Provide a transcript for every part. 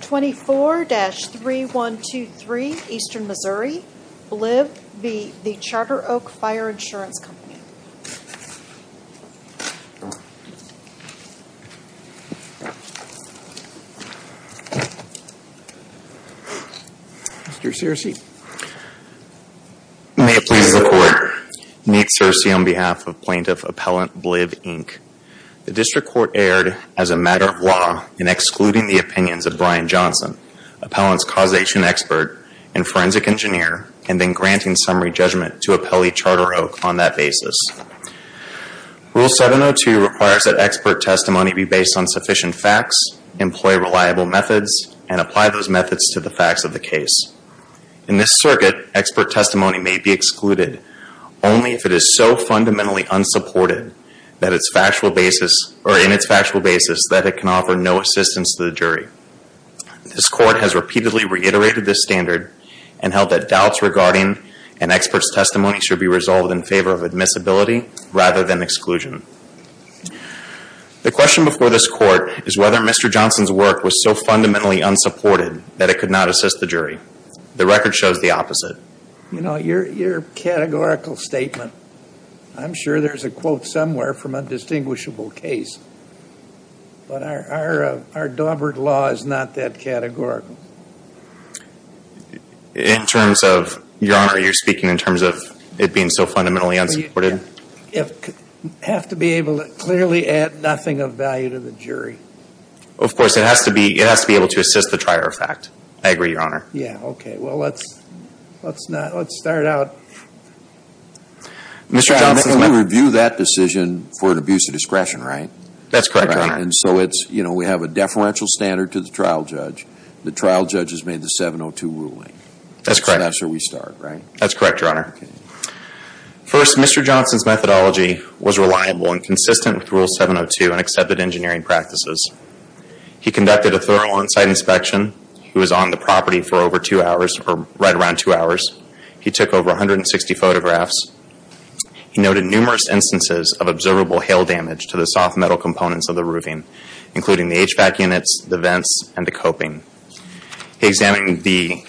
24-3123 Eastern Missouri. Bliv, Inc. v. The Charter Oak Fire Insurance Company. Mr. Searcy. May it please the Court. Neat Searcy on behalf of Plaintiff Appellant Bliv, Inc. The District Court erred as a matter of law in excluding the opinions of Brian Johnson, Appellant's causation expert and forensic engineer, and in granting summary judgment to Appellee Charter Oak on that basis. Rule 702 requires that expert testimony be based on sufficient facts, employ reliable methods, and apply those methods to the facts of the case. In this circuit, expert testimony may be excluded only if it is so fundamentally unsupported in its factual basis that it can offer no assistance to the jury. This Court has repeatedly reiterated this standard and held that doubts regarding an expert's testimony should be resolved in favor of admissibility rather than exclusion. The question before this Court is whether Mr. Johnson's work was so fundamentally unsupported that it could not assist the jury. The record shows the opposite. You know, your categorical statement, I'm sure there's a quote somewhere from a distinguishable case, but our Daubert law is not that categorical. In terms of, Your Honor, you're speaking in terms of it being so fundamentally unsupported? It would have to be able to clearly add nothing of value to the jury. Of course, it has to be able to assist the trier of fact. I agree, Your Honor. Yeah, okay. Well, let's start out. Mr. Johnson's work... We review that decision for an abuse of discretion, right? That's correct, Your Honor. And so it's, you know, we have a deferential standard to the trial judge. The trial judge has made the 702 ruling. That's correct. That's where we start, right? That's correct, Your Honor. First, Mr. Johnson's methodology was reliable and consistent with Rule 702 and accepted engineering practices. He conducted a thorough on-site inspection. He was on the property for over two hours, or right around two hours. He took over 160 photographs. He noted numerous instances of observable hail damage to the soft metal components of the roofing, including the HVAC units, the vents, and the coping. He examined the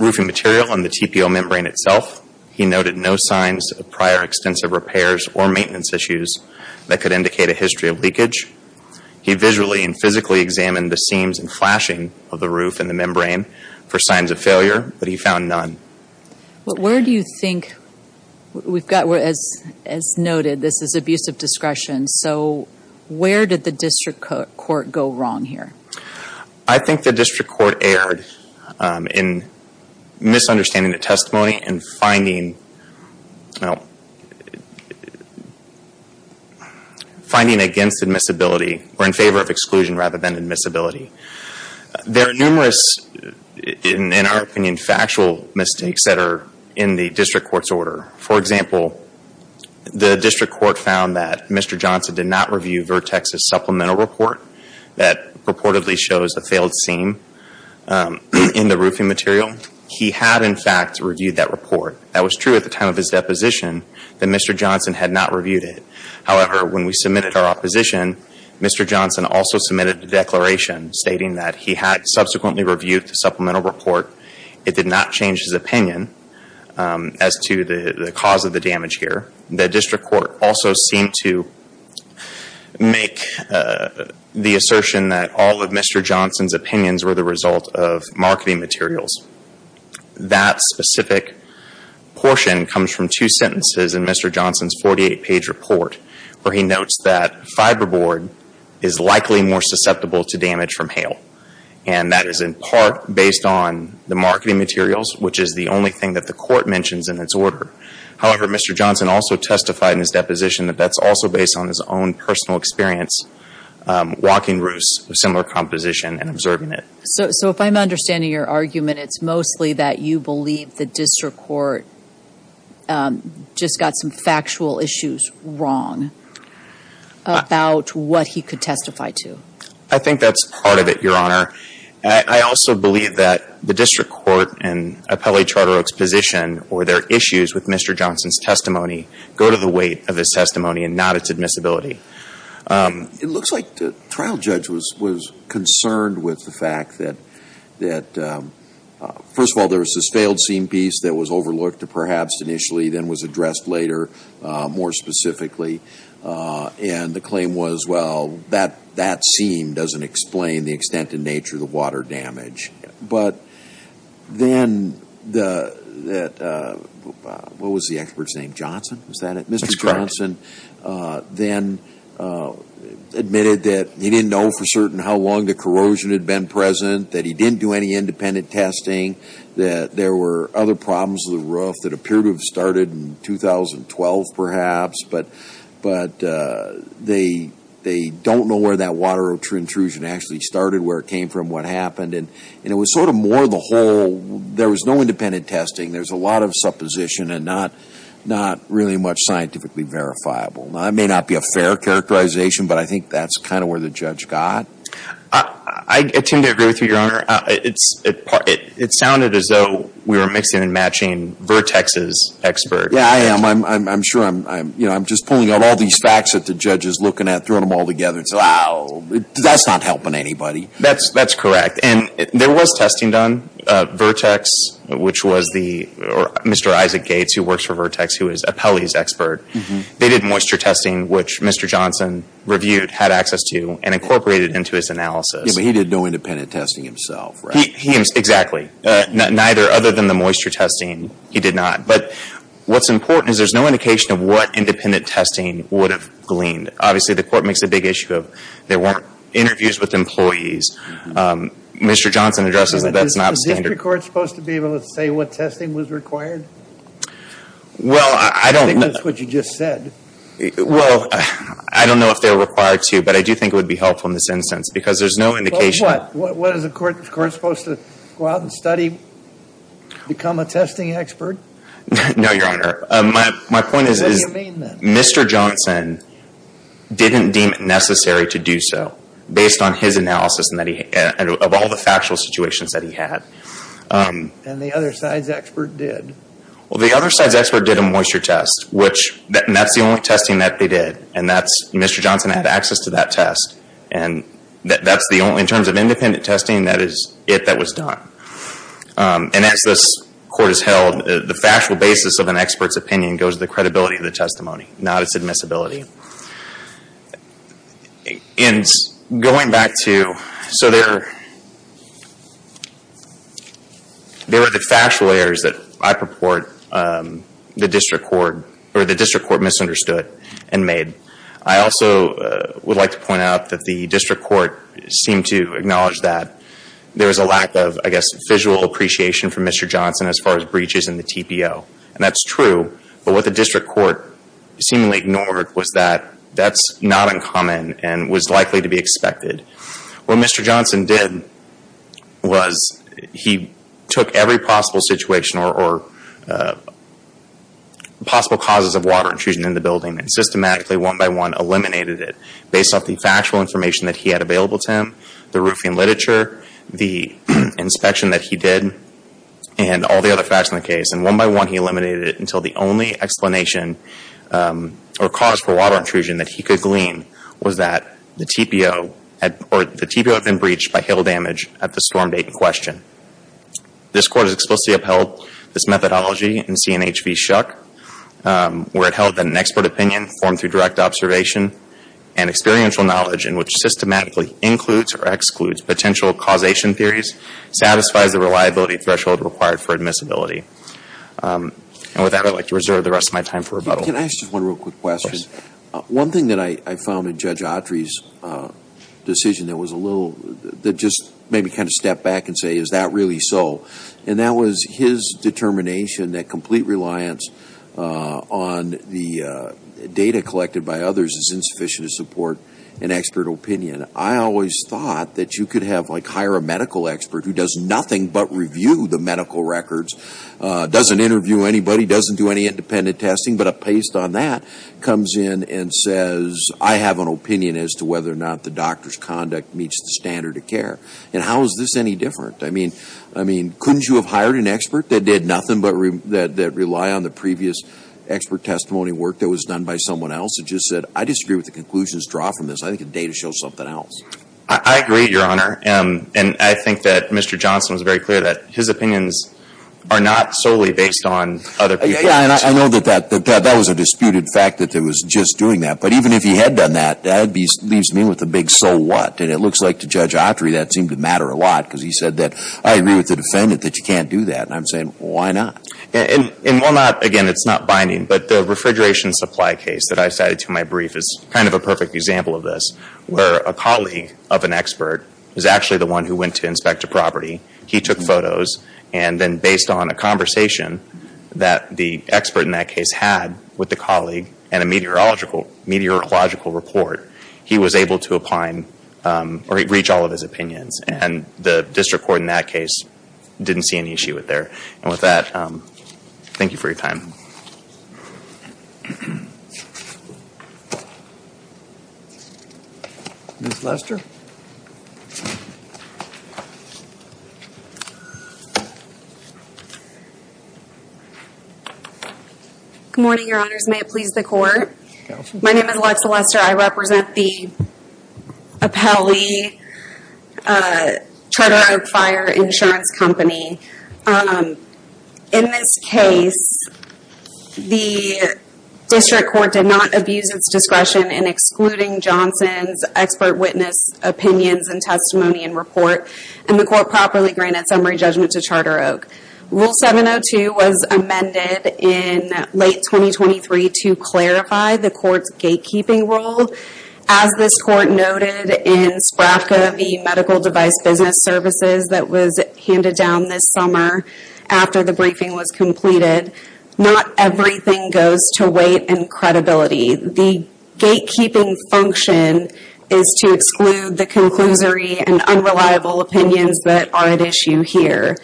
roofing material and the TPO membrane itself. He noted no signs of prior extensive repairs or maintenance issues that could indicate a history of leakage. He visually and physically examined the seams and flashing of the roof and the membrane for signs of failure, but he found none. But where do you think... We've got, as noted, this is abuse of discretion. So where did the district court go wrong here? I think the district court erred in misunderstanding the testimony and finding against admissibility, or in favor of exclusion rather than admissibility. There are numerous, in our opinion, factual mistakes that are in the district court's order. For example, the district court found that Mr. Johnson did not review Vertex's supplemental report that purportedly shows a failed seam in the roofing material. He had, in fact, reviewed that report. That was true at the time of his deposition that Mr. Johnson had not reviewed it. However, when we submitted our opposition, Mr. Johnson also submitted a declaration stating that he had subsequently reviewed the supplemental report. It did not change his opinion as to the cause of the damage here. The district court also seemed to make the assertion that all of Mr. Johnson's opinions were the result of marketing materials. That specific portion comes from two sentences in Mr. Johnson's 48-page report where he notes that fiberboard is likely more susceptible to damage from hail, and that is in part based on the marketing materials, which is the only thing that the court mentions in its order. However, Mr. Johnson also testified in his deposition that that's also based on his own personal experience walking roosts of similar composition and observing it. So if I'm understanding your argument, it's mostly that you believe the district court just got some factual issues wrong about what he could testify to. I think that's part of it, Your Honor. I also believe that the district court and Appellee Charter Oak's position or their issues with Mr. Johnson's testimony go to the weight of his testimony and not its admissibility. It looks like the trial judge was concerned with the fact that, first of all, there was this failed scene piece that was overlooked perhaps initially then was addressed later more specifically, and the claim was, well, that scene doesn't explain the extent in nature of the water damage. But then, what was the expert's name? Johnson? That's correct. Mr. Johnson then admitted that he didn't know for certain how long the corrosion had been present, that he didn't do any independent testing, that there were other problems with the roof that appeared to have started in 2012 perhaps, but they don't know where that water intrusion actually started, where it came from, what happened. And it was sort of more of the whole, there was no independent testing. There's a lot of supposition and not really much scientifically verifiable. Now, that may not be a fair characterization, but I think that's kind of where the judge got. I tend to agree with you, Your Honor. It sounded as though we were mixing and matching Vertex's expert. Yeah, I am. I'm sure I'm just pulling out all these facts that the judge is looking at, throwing them all together and saying, oh, that's not helping anybody. That's correct. And there was testing done. Vertex, which was the, or Mr. Isaac Gates, who works for Vertex, who is Apelli's expert, they did moisture testing, which Mr. Johnson reviewed, had access to, and incorporated into his analysis. Yeah, but he did no independent testing himself, right? Exactly. Neither, other than the moisture testing, he did not. But what's important is there's no indication of what independent testing would have gleaned. Obviously, the court makes a big issue of there weren't interviews with employees. Mr. Johnson addresses that that's not standard. Is the district court supposed to be able to say what testing was required? Well, I don't know. I think that's what you just said. Well, I don't know if they're required to, but I do think it would be helpful in this instance, because there's no indication. Well, what? What, is the court supposed to go out and study, become a testing expert? No, Your Honor. What do you mean, then? Mr. Johnson didn't deem it necessary to do so, based on his analysis of all the factual situations that he had. And the other side's expert did? Well, the other side's expert did a moisture test, and that's the only testing that they did, and Mr. Johnson had access to that test. In terms of independent testing, that is it that was done. And as this court has held, the factual basis of an expert's opinion goes to the credibility of the testimony, not its admissibility. And going back to, so there are the factual errors that I purport the district court misunderstood and made. I also would like to point out that the district court seemed to acknowledge that there was a lack of, I guess, visual appreciation from Mr. Johnson as far as breaches in the TPO. And that's true, but what the district court seemingly ignored was that that's not uncommon and was likely to be expected. What Mr. Johnson did was he took every possible situation or possible causes of water intrusion in the building and systematically, one by one, eliminated it, based off the factual information that he had available to him, the roofing literature, the inspection that he did, and all the other facts in the case. And one by one, he eliminated it until the only explanation or cause for water intrusion that he could glean was that the TPO had been breached by hail damage at the storm date in question. This court has explicitly upheld this methodology in C&H v. Shuck, where it held that an expert opinion formed through direct observation and experiential knowledge in which systematically includes or excludes potential causation theories satisfies the reliability threshold required for admissibility. And with that, I'd like to reserve the rest of my time for rebuttal. Can I ask just one real quick question? One thing that I found in Judge Autry's decision that was a little, that just made me kind of step back and say, is that really so? And that was his determination that complete reliance on the data collected by others is insufficient to support an expert opinion. I always thought that you could have, like, hire a medical expert who does nothing but review the medical records, doesn't interview anybody, doesn't do any independent testing, but a paste on that comes in and says, I have an opinion as to whether or not the doctor's conduct meets the standard of care. And how is this any different? I mean, couldn't you have hired an expert that did nothing but rely on the previous expert testimony work that was done by someone else and just said, I disagree with the conclusion's draw from this. I think the data shows something else. I agree, Your Honor. And I think that Mr. Johnson was very clear that his opinions are not solely based on other people. Yeah, and I know that that was a disputed fact that it was just doing that. But even if he had done that, that leaves me with a big so what. And it looks like to Judge Autry that seemed to matter a lot because he said that, I agree with the defendant that you can't do that. And I'm saying, well, why not? And while not, again, it's not binding, but the refrigeration supply case that I cited to my brief is kind of a perfect example of this where a colleague of an expert is actually the one who went to inspect a property. He took photos. And then based on a conversation that the expert in that case had with the colleague and a meteorological report, he was able to reach all of his opinions. And the district court in that case didn't see an issue with there. And with that, thank you for your time. Ms. Lester? Good morning, Your Honors. May it please the Court? Go for it. My name is Alexa Lester. I represent the Apelli Charter Oak Fire Insurance Company. In this case, the district court did not abuse its discretion in excluding Johnson's expert witness opinions and testimony and report, and the court properly granted summary judgment to Charter Oak. Rule 702 was amended in late 2023 to clarify the court's gatekeeping rule. As this court noted in SPRAFCA, the medical device business services that was handed down this summer after the briefing was completed, not everything goes to weight and credibility. The gatekeeping function is to exclude the conclusory and unreliable opinions that are at issue here.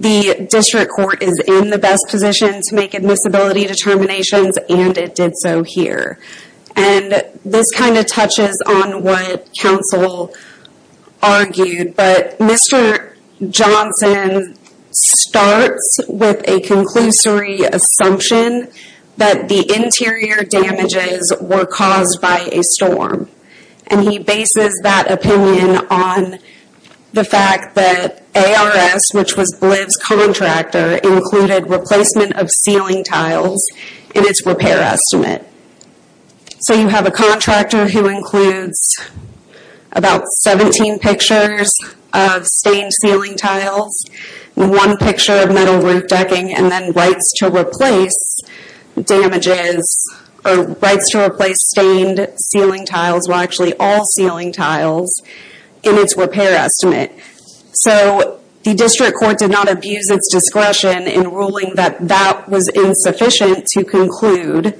The district court is in the best position to make admissibility determinations, and it did so here. And this kind of touches on what counsel argued, but Mr. Johnson starts with a conclusory assumption that the interior damages were caused by a storm. And he bases that opinion on the fact that ARS, which was Bliv's contractor, included replacement of ceiling tiles in its repair estimate. So you have a contractor who includes about 17 pictures of stained ceiling tiles, one picture of metal roof decking, and then rights to replace stained ceiling tiles, well actually all ceiling tiles, in its repair estimate. So the district court did not abuse its discretion in ruling that that was insufficient to conclude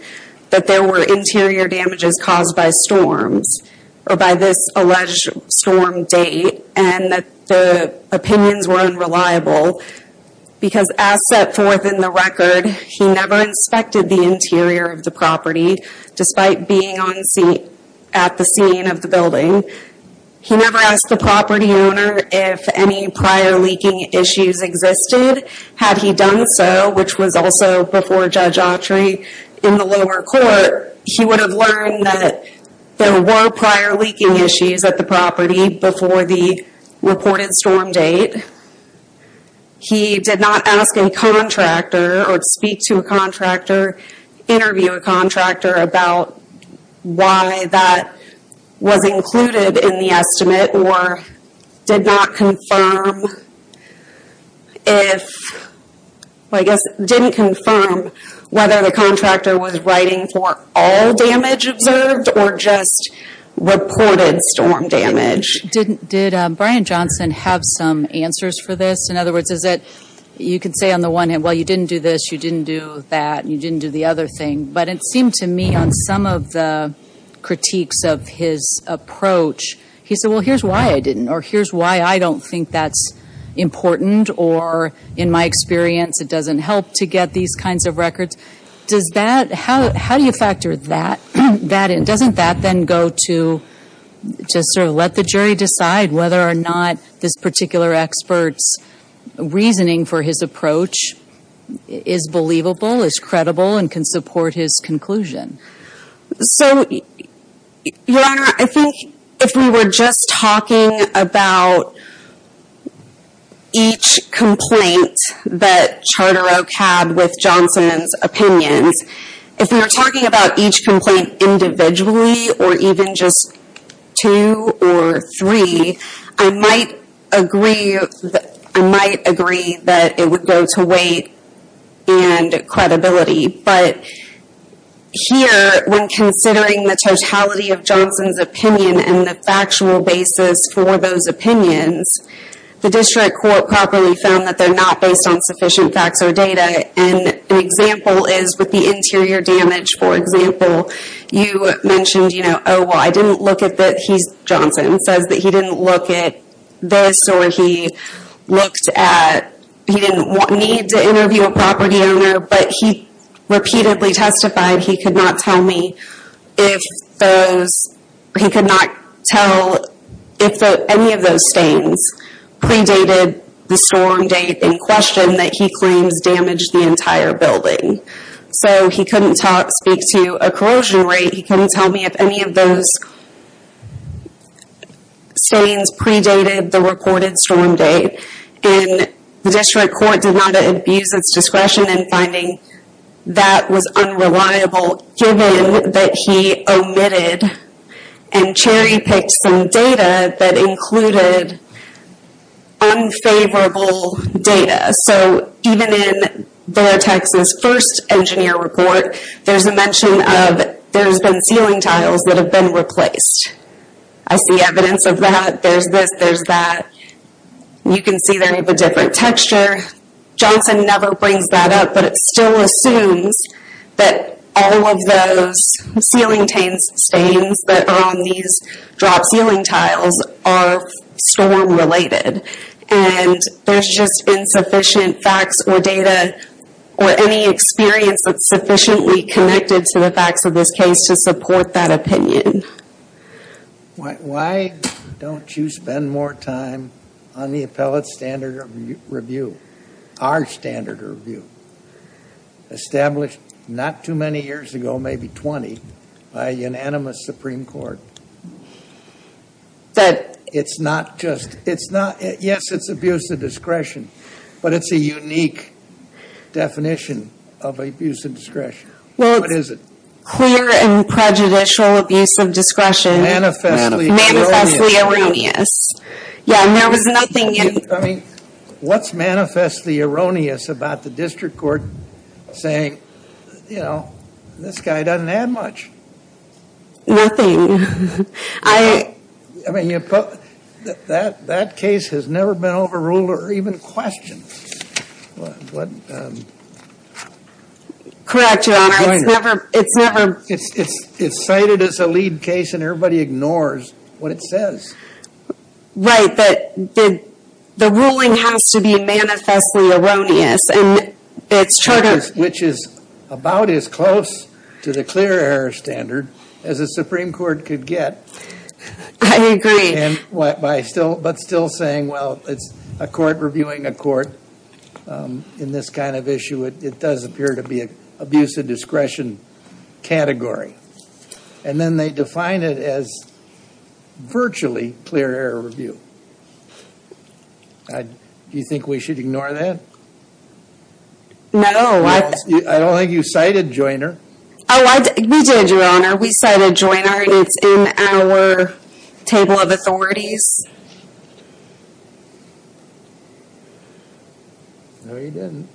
that there were interior damages caused by storms, or by this alleged storm date, and that the opinions were unreliable. Because as set forth in the record, he never inspected the interior of the property, despite being at the scene of the building. He never asked the property owner if any prior leaking issues existed. Had he done so, which was also before Judge Autry in the lower court, he would have learned that there were prior leaking issues at the property before the reported storm date. He did not ask a contractor, or speak to a contractor, interview a contractor, about why that was included in the estimate, or did not confirm whether the contractor was writing for all damage observed, or just reported storm damage. Did Brian Johnson have some answers for this? In other words, you can say on the one hand, well you didn't do this, you didn't do that, you didn't do the other thing. But it seemed to me on some of the critiques of his approach, he said, well here's why I didn't, or here's why I don't think that's important, or in my experience it doesn't help to get these kinds of records. How do you factor that in? Doesn't that then go to just sort of let the jury decide whether or not this particular expert's reasoning for his approach is believable, is credible, and can support his conclusion? Your Honor, I think if we were just talking about each complaint that Charter Oak had with Johnson's opinions, if we were talking about each complaint individually, or even just two or three, I might agree that it would go to weight and credibility. But here, when considering the totality of Johnson's opinion and the factual basis for those opinions, the district court properly found that they're not based on sufficient facts or data. An example is with the interior damage, for example, you mentioned, oh well I didn't look at the, Johnson says that he didn't look at this or he looked at, he didn't need to interview a property owner, but he repeatedly testified he could not tell me if those, he could not tell if any of those stains predated the storm date in question that he claims damaged the entire building. So he couldn't speak to a corrosion rate, he couldn't tell me if any of those stains predated the reported storm date. And the district court did not abuse its discretion in finding that was unreliable, given that he omitted and cherry picked some data that included unfavorable data. So even in the Texas first engineer report, there's a mention of there's been ceiling tiles that have been replaced. I see evidence of that, there's this, there's that. You can see they have a different texture. Johnson never brings that up, but it still assumes that all of those ceiling stains that are on these drop ceiling tiles are storm related. And there's just insufficient facts or data, or any experience that's sufficiently connected to the facts of this case to support that opinion. Why don't you spend more time on the appellate standard review? Our standard review. Established not too many years ago, maybe 20, by unanimous Supreme Court. That it's not just, it's not, yes it's abuse of discretion, but it's a unique definition of abuse of discretion. What is it? Clear and prejudicial abuse of discretion. Manifestly erroneous. Manifestly erroneous. Yeah, and there was nothing in. I mean, what's manifestly erroneous about the district court saying, you know, this guy doesn't add much? Nothing. I. I mean, that case has never been overruled or even questioned. Correct, Your Honor. It's never. It's cited as a lead case and everybody ignores what it says. Right, but the ruling has to be manifestly erroneous. And it's. Which is about as close to the clear error standard as the Supreme Court could get. I agree. But still saying, well, it's a court reviewing a court in this kind of issue. It does appear to be an abuse of discretion category. And then they define it as virtually clear error review. Do you think we should ignore that? No. I don't think you cited Joyner. Oh, we did, Your Honor. We cited Joyner and it's in our table of authorities. No, you didn't.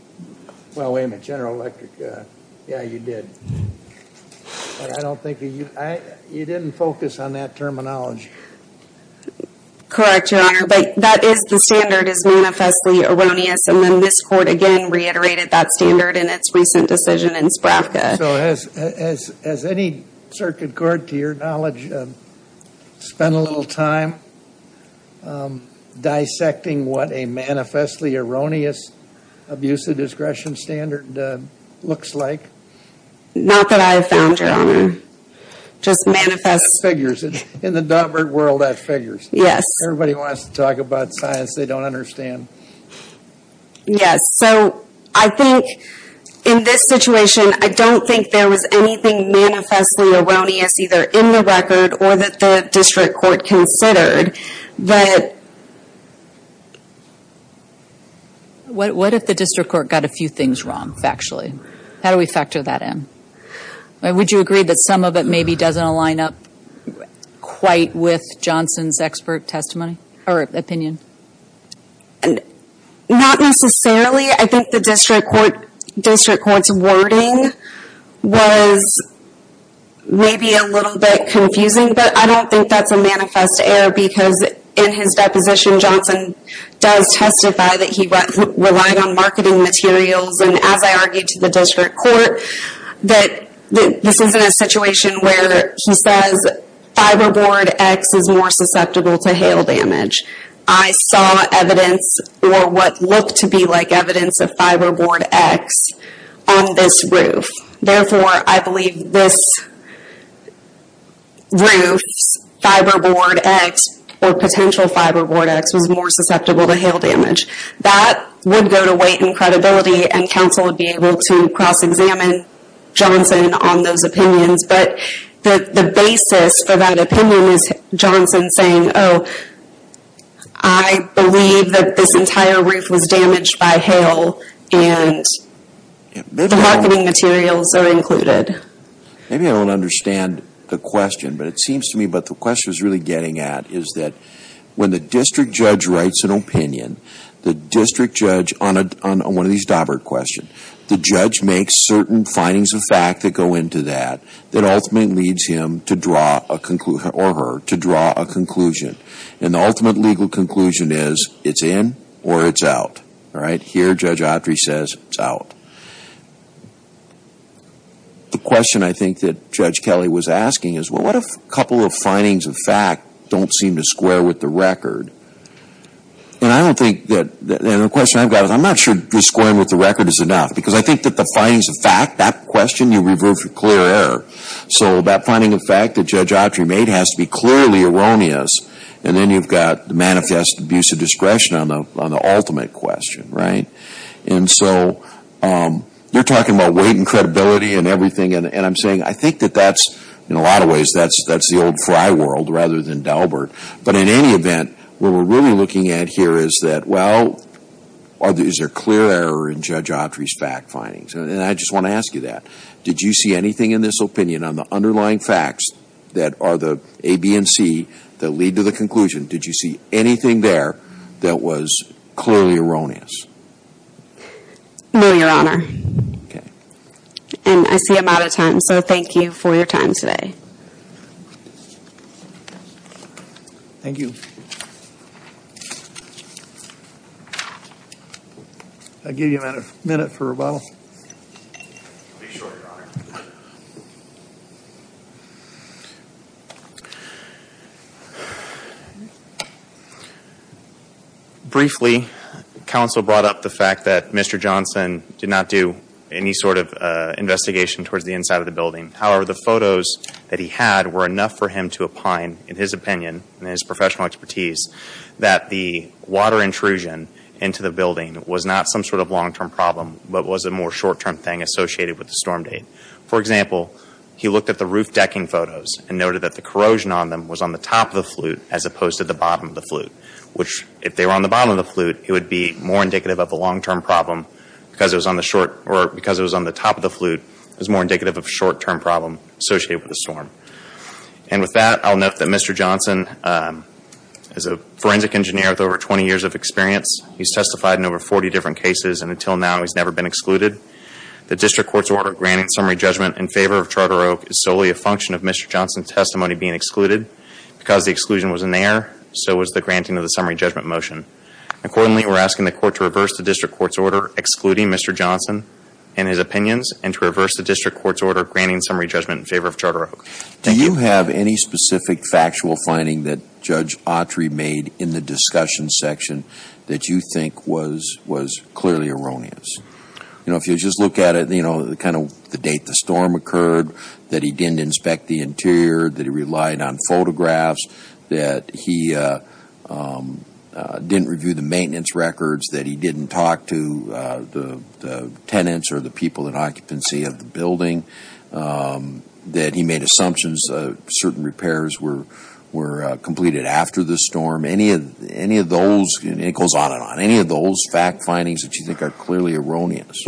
Well, wait a minute. General Electric. Yeah, you did. But I don't think you. You didn't focus on that terminology. Correct, Your Honor. But that is the standard is manifestly erroneous. And then this court, again, reiterated that standard in its recent decision in Spravka. So has any circuit court, to your knowledge, spent a little time dissecting what a manifestly erroneous abuse of discretion standard looks like? Not that I have found, Your Honor. Just manifest. It figures. In the dot word world, that figures. Yes. Everybody wants to talk about science they don't understand. Yes. So I think in this situation, I don't think there was anything manifestly erroneous either in the record or that the district court considered. What if the district court got a few things wrong factually? How do we factor that in? Would you agree that some of it maybe doesn't align up quite with Johnson's expert testimony or opinion? Not necessarily. I think the district court's wording was maybe a little bit confusing. But I don't think that's a manifest error because in his deposition, Johnson does testify that he relied on marketing materials. And as I argued to the district court, that this isn't a situation where he says Fiberboard X is more susceptible to hail damage. I saw evidence or what looked to be like evidence of Fiberboard X on this roof. Therefore, I believe this roof's Fiberboard X or potential Fiberboard X was more susceptible to hail damage. That would go to weight and credibility and counsel would be able to cross-examine Johnson on those opinions. But the basis for that opinion is Johnson saying, oh, I believe that this entire roof was damaged by hail and the marketing materials are included. Maybe I don't understand the question, but it seems to me what the question is really getting at is that when the district judge writes an opinion, the district judge on one of these Daubert questions, the judge makes certain findings of fact that go into that, that ultimately leads him or her to draw a conclusion. And the ultimate legal conclusion is it's in or it's out. Here, Judge Autry says it's out. The question I think that Judge Kelly was asking is, well, what if a couple of findings of fact don't seem to square with the record? And I don't think that, and the question I've got is, I'm not sure that squaring with the record is enough. Because I think that the findings of fact, that question, you revert to clear error. So that finding of fact that Judge Autry made has to be clearly erroneous. And then you've got the manifest abuse of discretion on the ultimate question, right? And so you're talking about weight and credibility and everything. And I'm saying I think that that's, in a lot of ways, that's the old fry world rather than Daubert. But in any event, what we're really looking at here is that, well, is there clear error in Judge Autry's fact findings? And I just want to ask you that. Did you see anything in this opinion on the underlying facts that are the A, B, and C that lead to the conclusion? Did you see anything there that was clearly erroneous? No, Your Honor. Okay. And I see I'm out of time. So thank you for your time today. Thank you. I'll give you a minute for rebuttal. Be sure, Your Honor. Briefly, counsel brought up the fact that Mr. Johnson did not do any sort of investigation towards the inside of the building. However, the photos that he had were enough for him to opine in his opinion and his professional expertise that the water intrusion into the building was not some sort of long-term problem but was a more short-term thing associated with the storm date. For example, he looked at the roof decking photos and noted that the corrosion on them was on the top of the flute as opposed to the bottom of the flute, which, if they were on the bottom of the flute, it would be more indicative of a long-term problem because it was on the top of the flute. It was more indicative of a short-term problem associated with the storm. And with that, I'll note that Mr. Johnson is a forensic engineer with over 20 years of experience. He's testified in over 40 different cases, and until now he's never been excluded. The district court's order granting summary judgment in favor of Charter Oak is solely a function of Mr. Johnson's testimony being excluded. Because the exclusion was in the air, so was the granting of the summary judgment motion. Accordingly, we're asking the court to reverse the district court's order excluding Mr. Johnson and his opinions and to reverse the district court's order granting summary judgment in favor of Charter Oak. Thank you. Do you have any specific factual finding that Judge Autry made in the discussion section that you think was clearly erroneous? You know, if you just look at it, you know, kind of the date the storm occurred, that he didn't inspect the interior, that he relied on photographs, that he didn't review the maintenance records, that he didn't talk to the tenants or the people in occupancy of the building, that he made assumptions certain repairs were completed after the storm. Any of those, and it goes on and on, any of those fact findings that you think are clearly erroneous?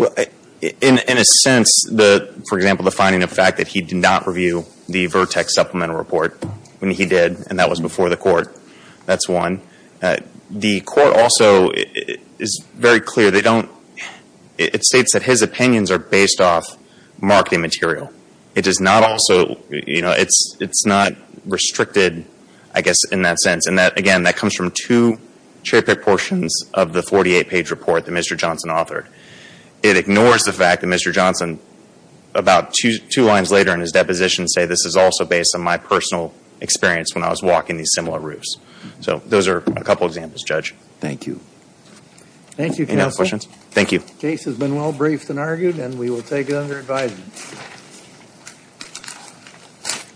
In a sense, for example, the finding of the fact that he did not review the Vertex Supplemental Report when he did, and that was before the court, that's one. The court also is very clear. They don't, it states that his opinions are based off marketing material. It does not also, you know, it's not restricted, I guess, in that sense. And that, again, that comes from two cherry-picked portions of the 48-page report that Mr. Johnson authored. It ignores the fact that Mr. Johnson, about two lines later in his deposition, say this is also based on my personal experience when I was walking these similar routes. So those are a couple examples, Judge. Thank you. Thank you, Counsel. Any other questions? Thank you. The case has been well briefed and argued, and we will take it under advisement.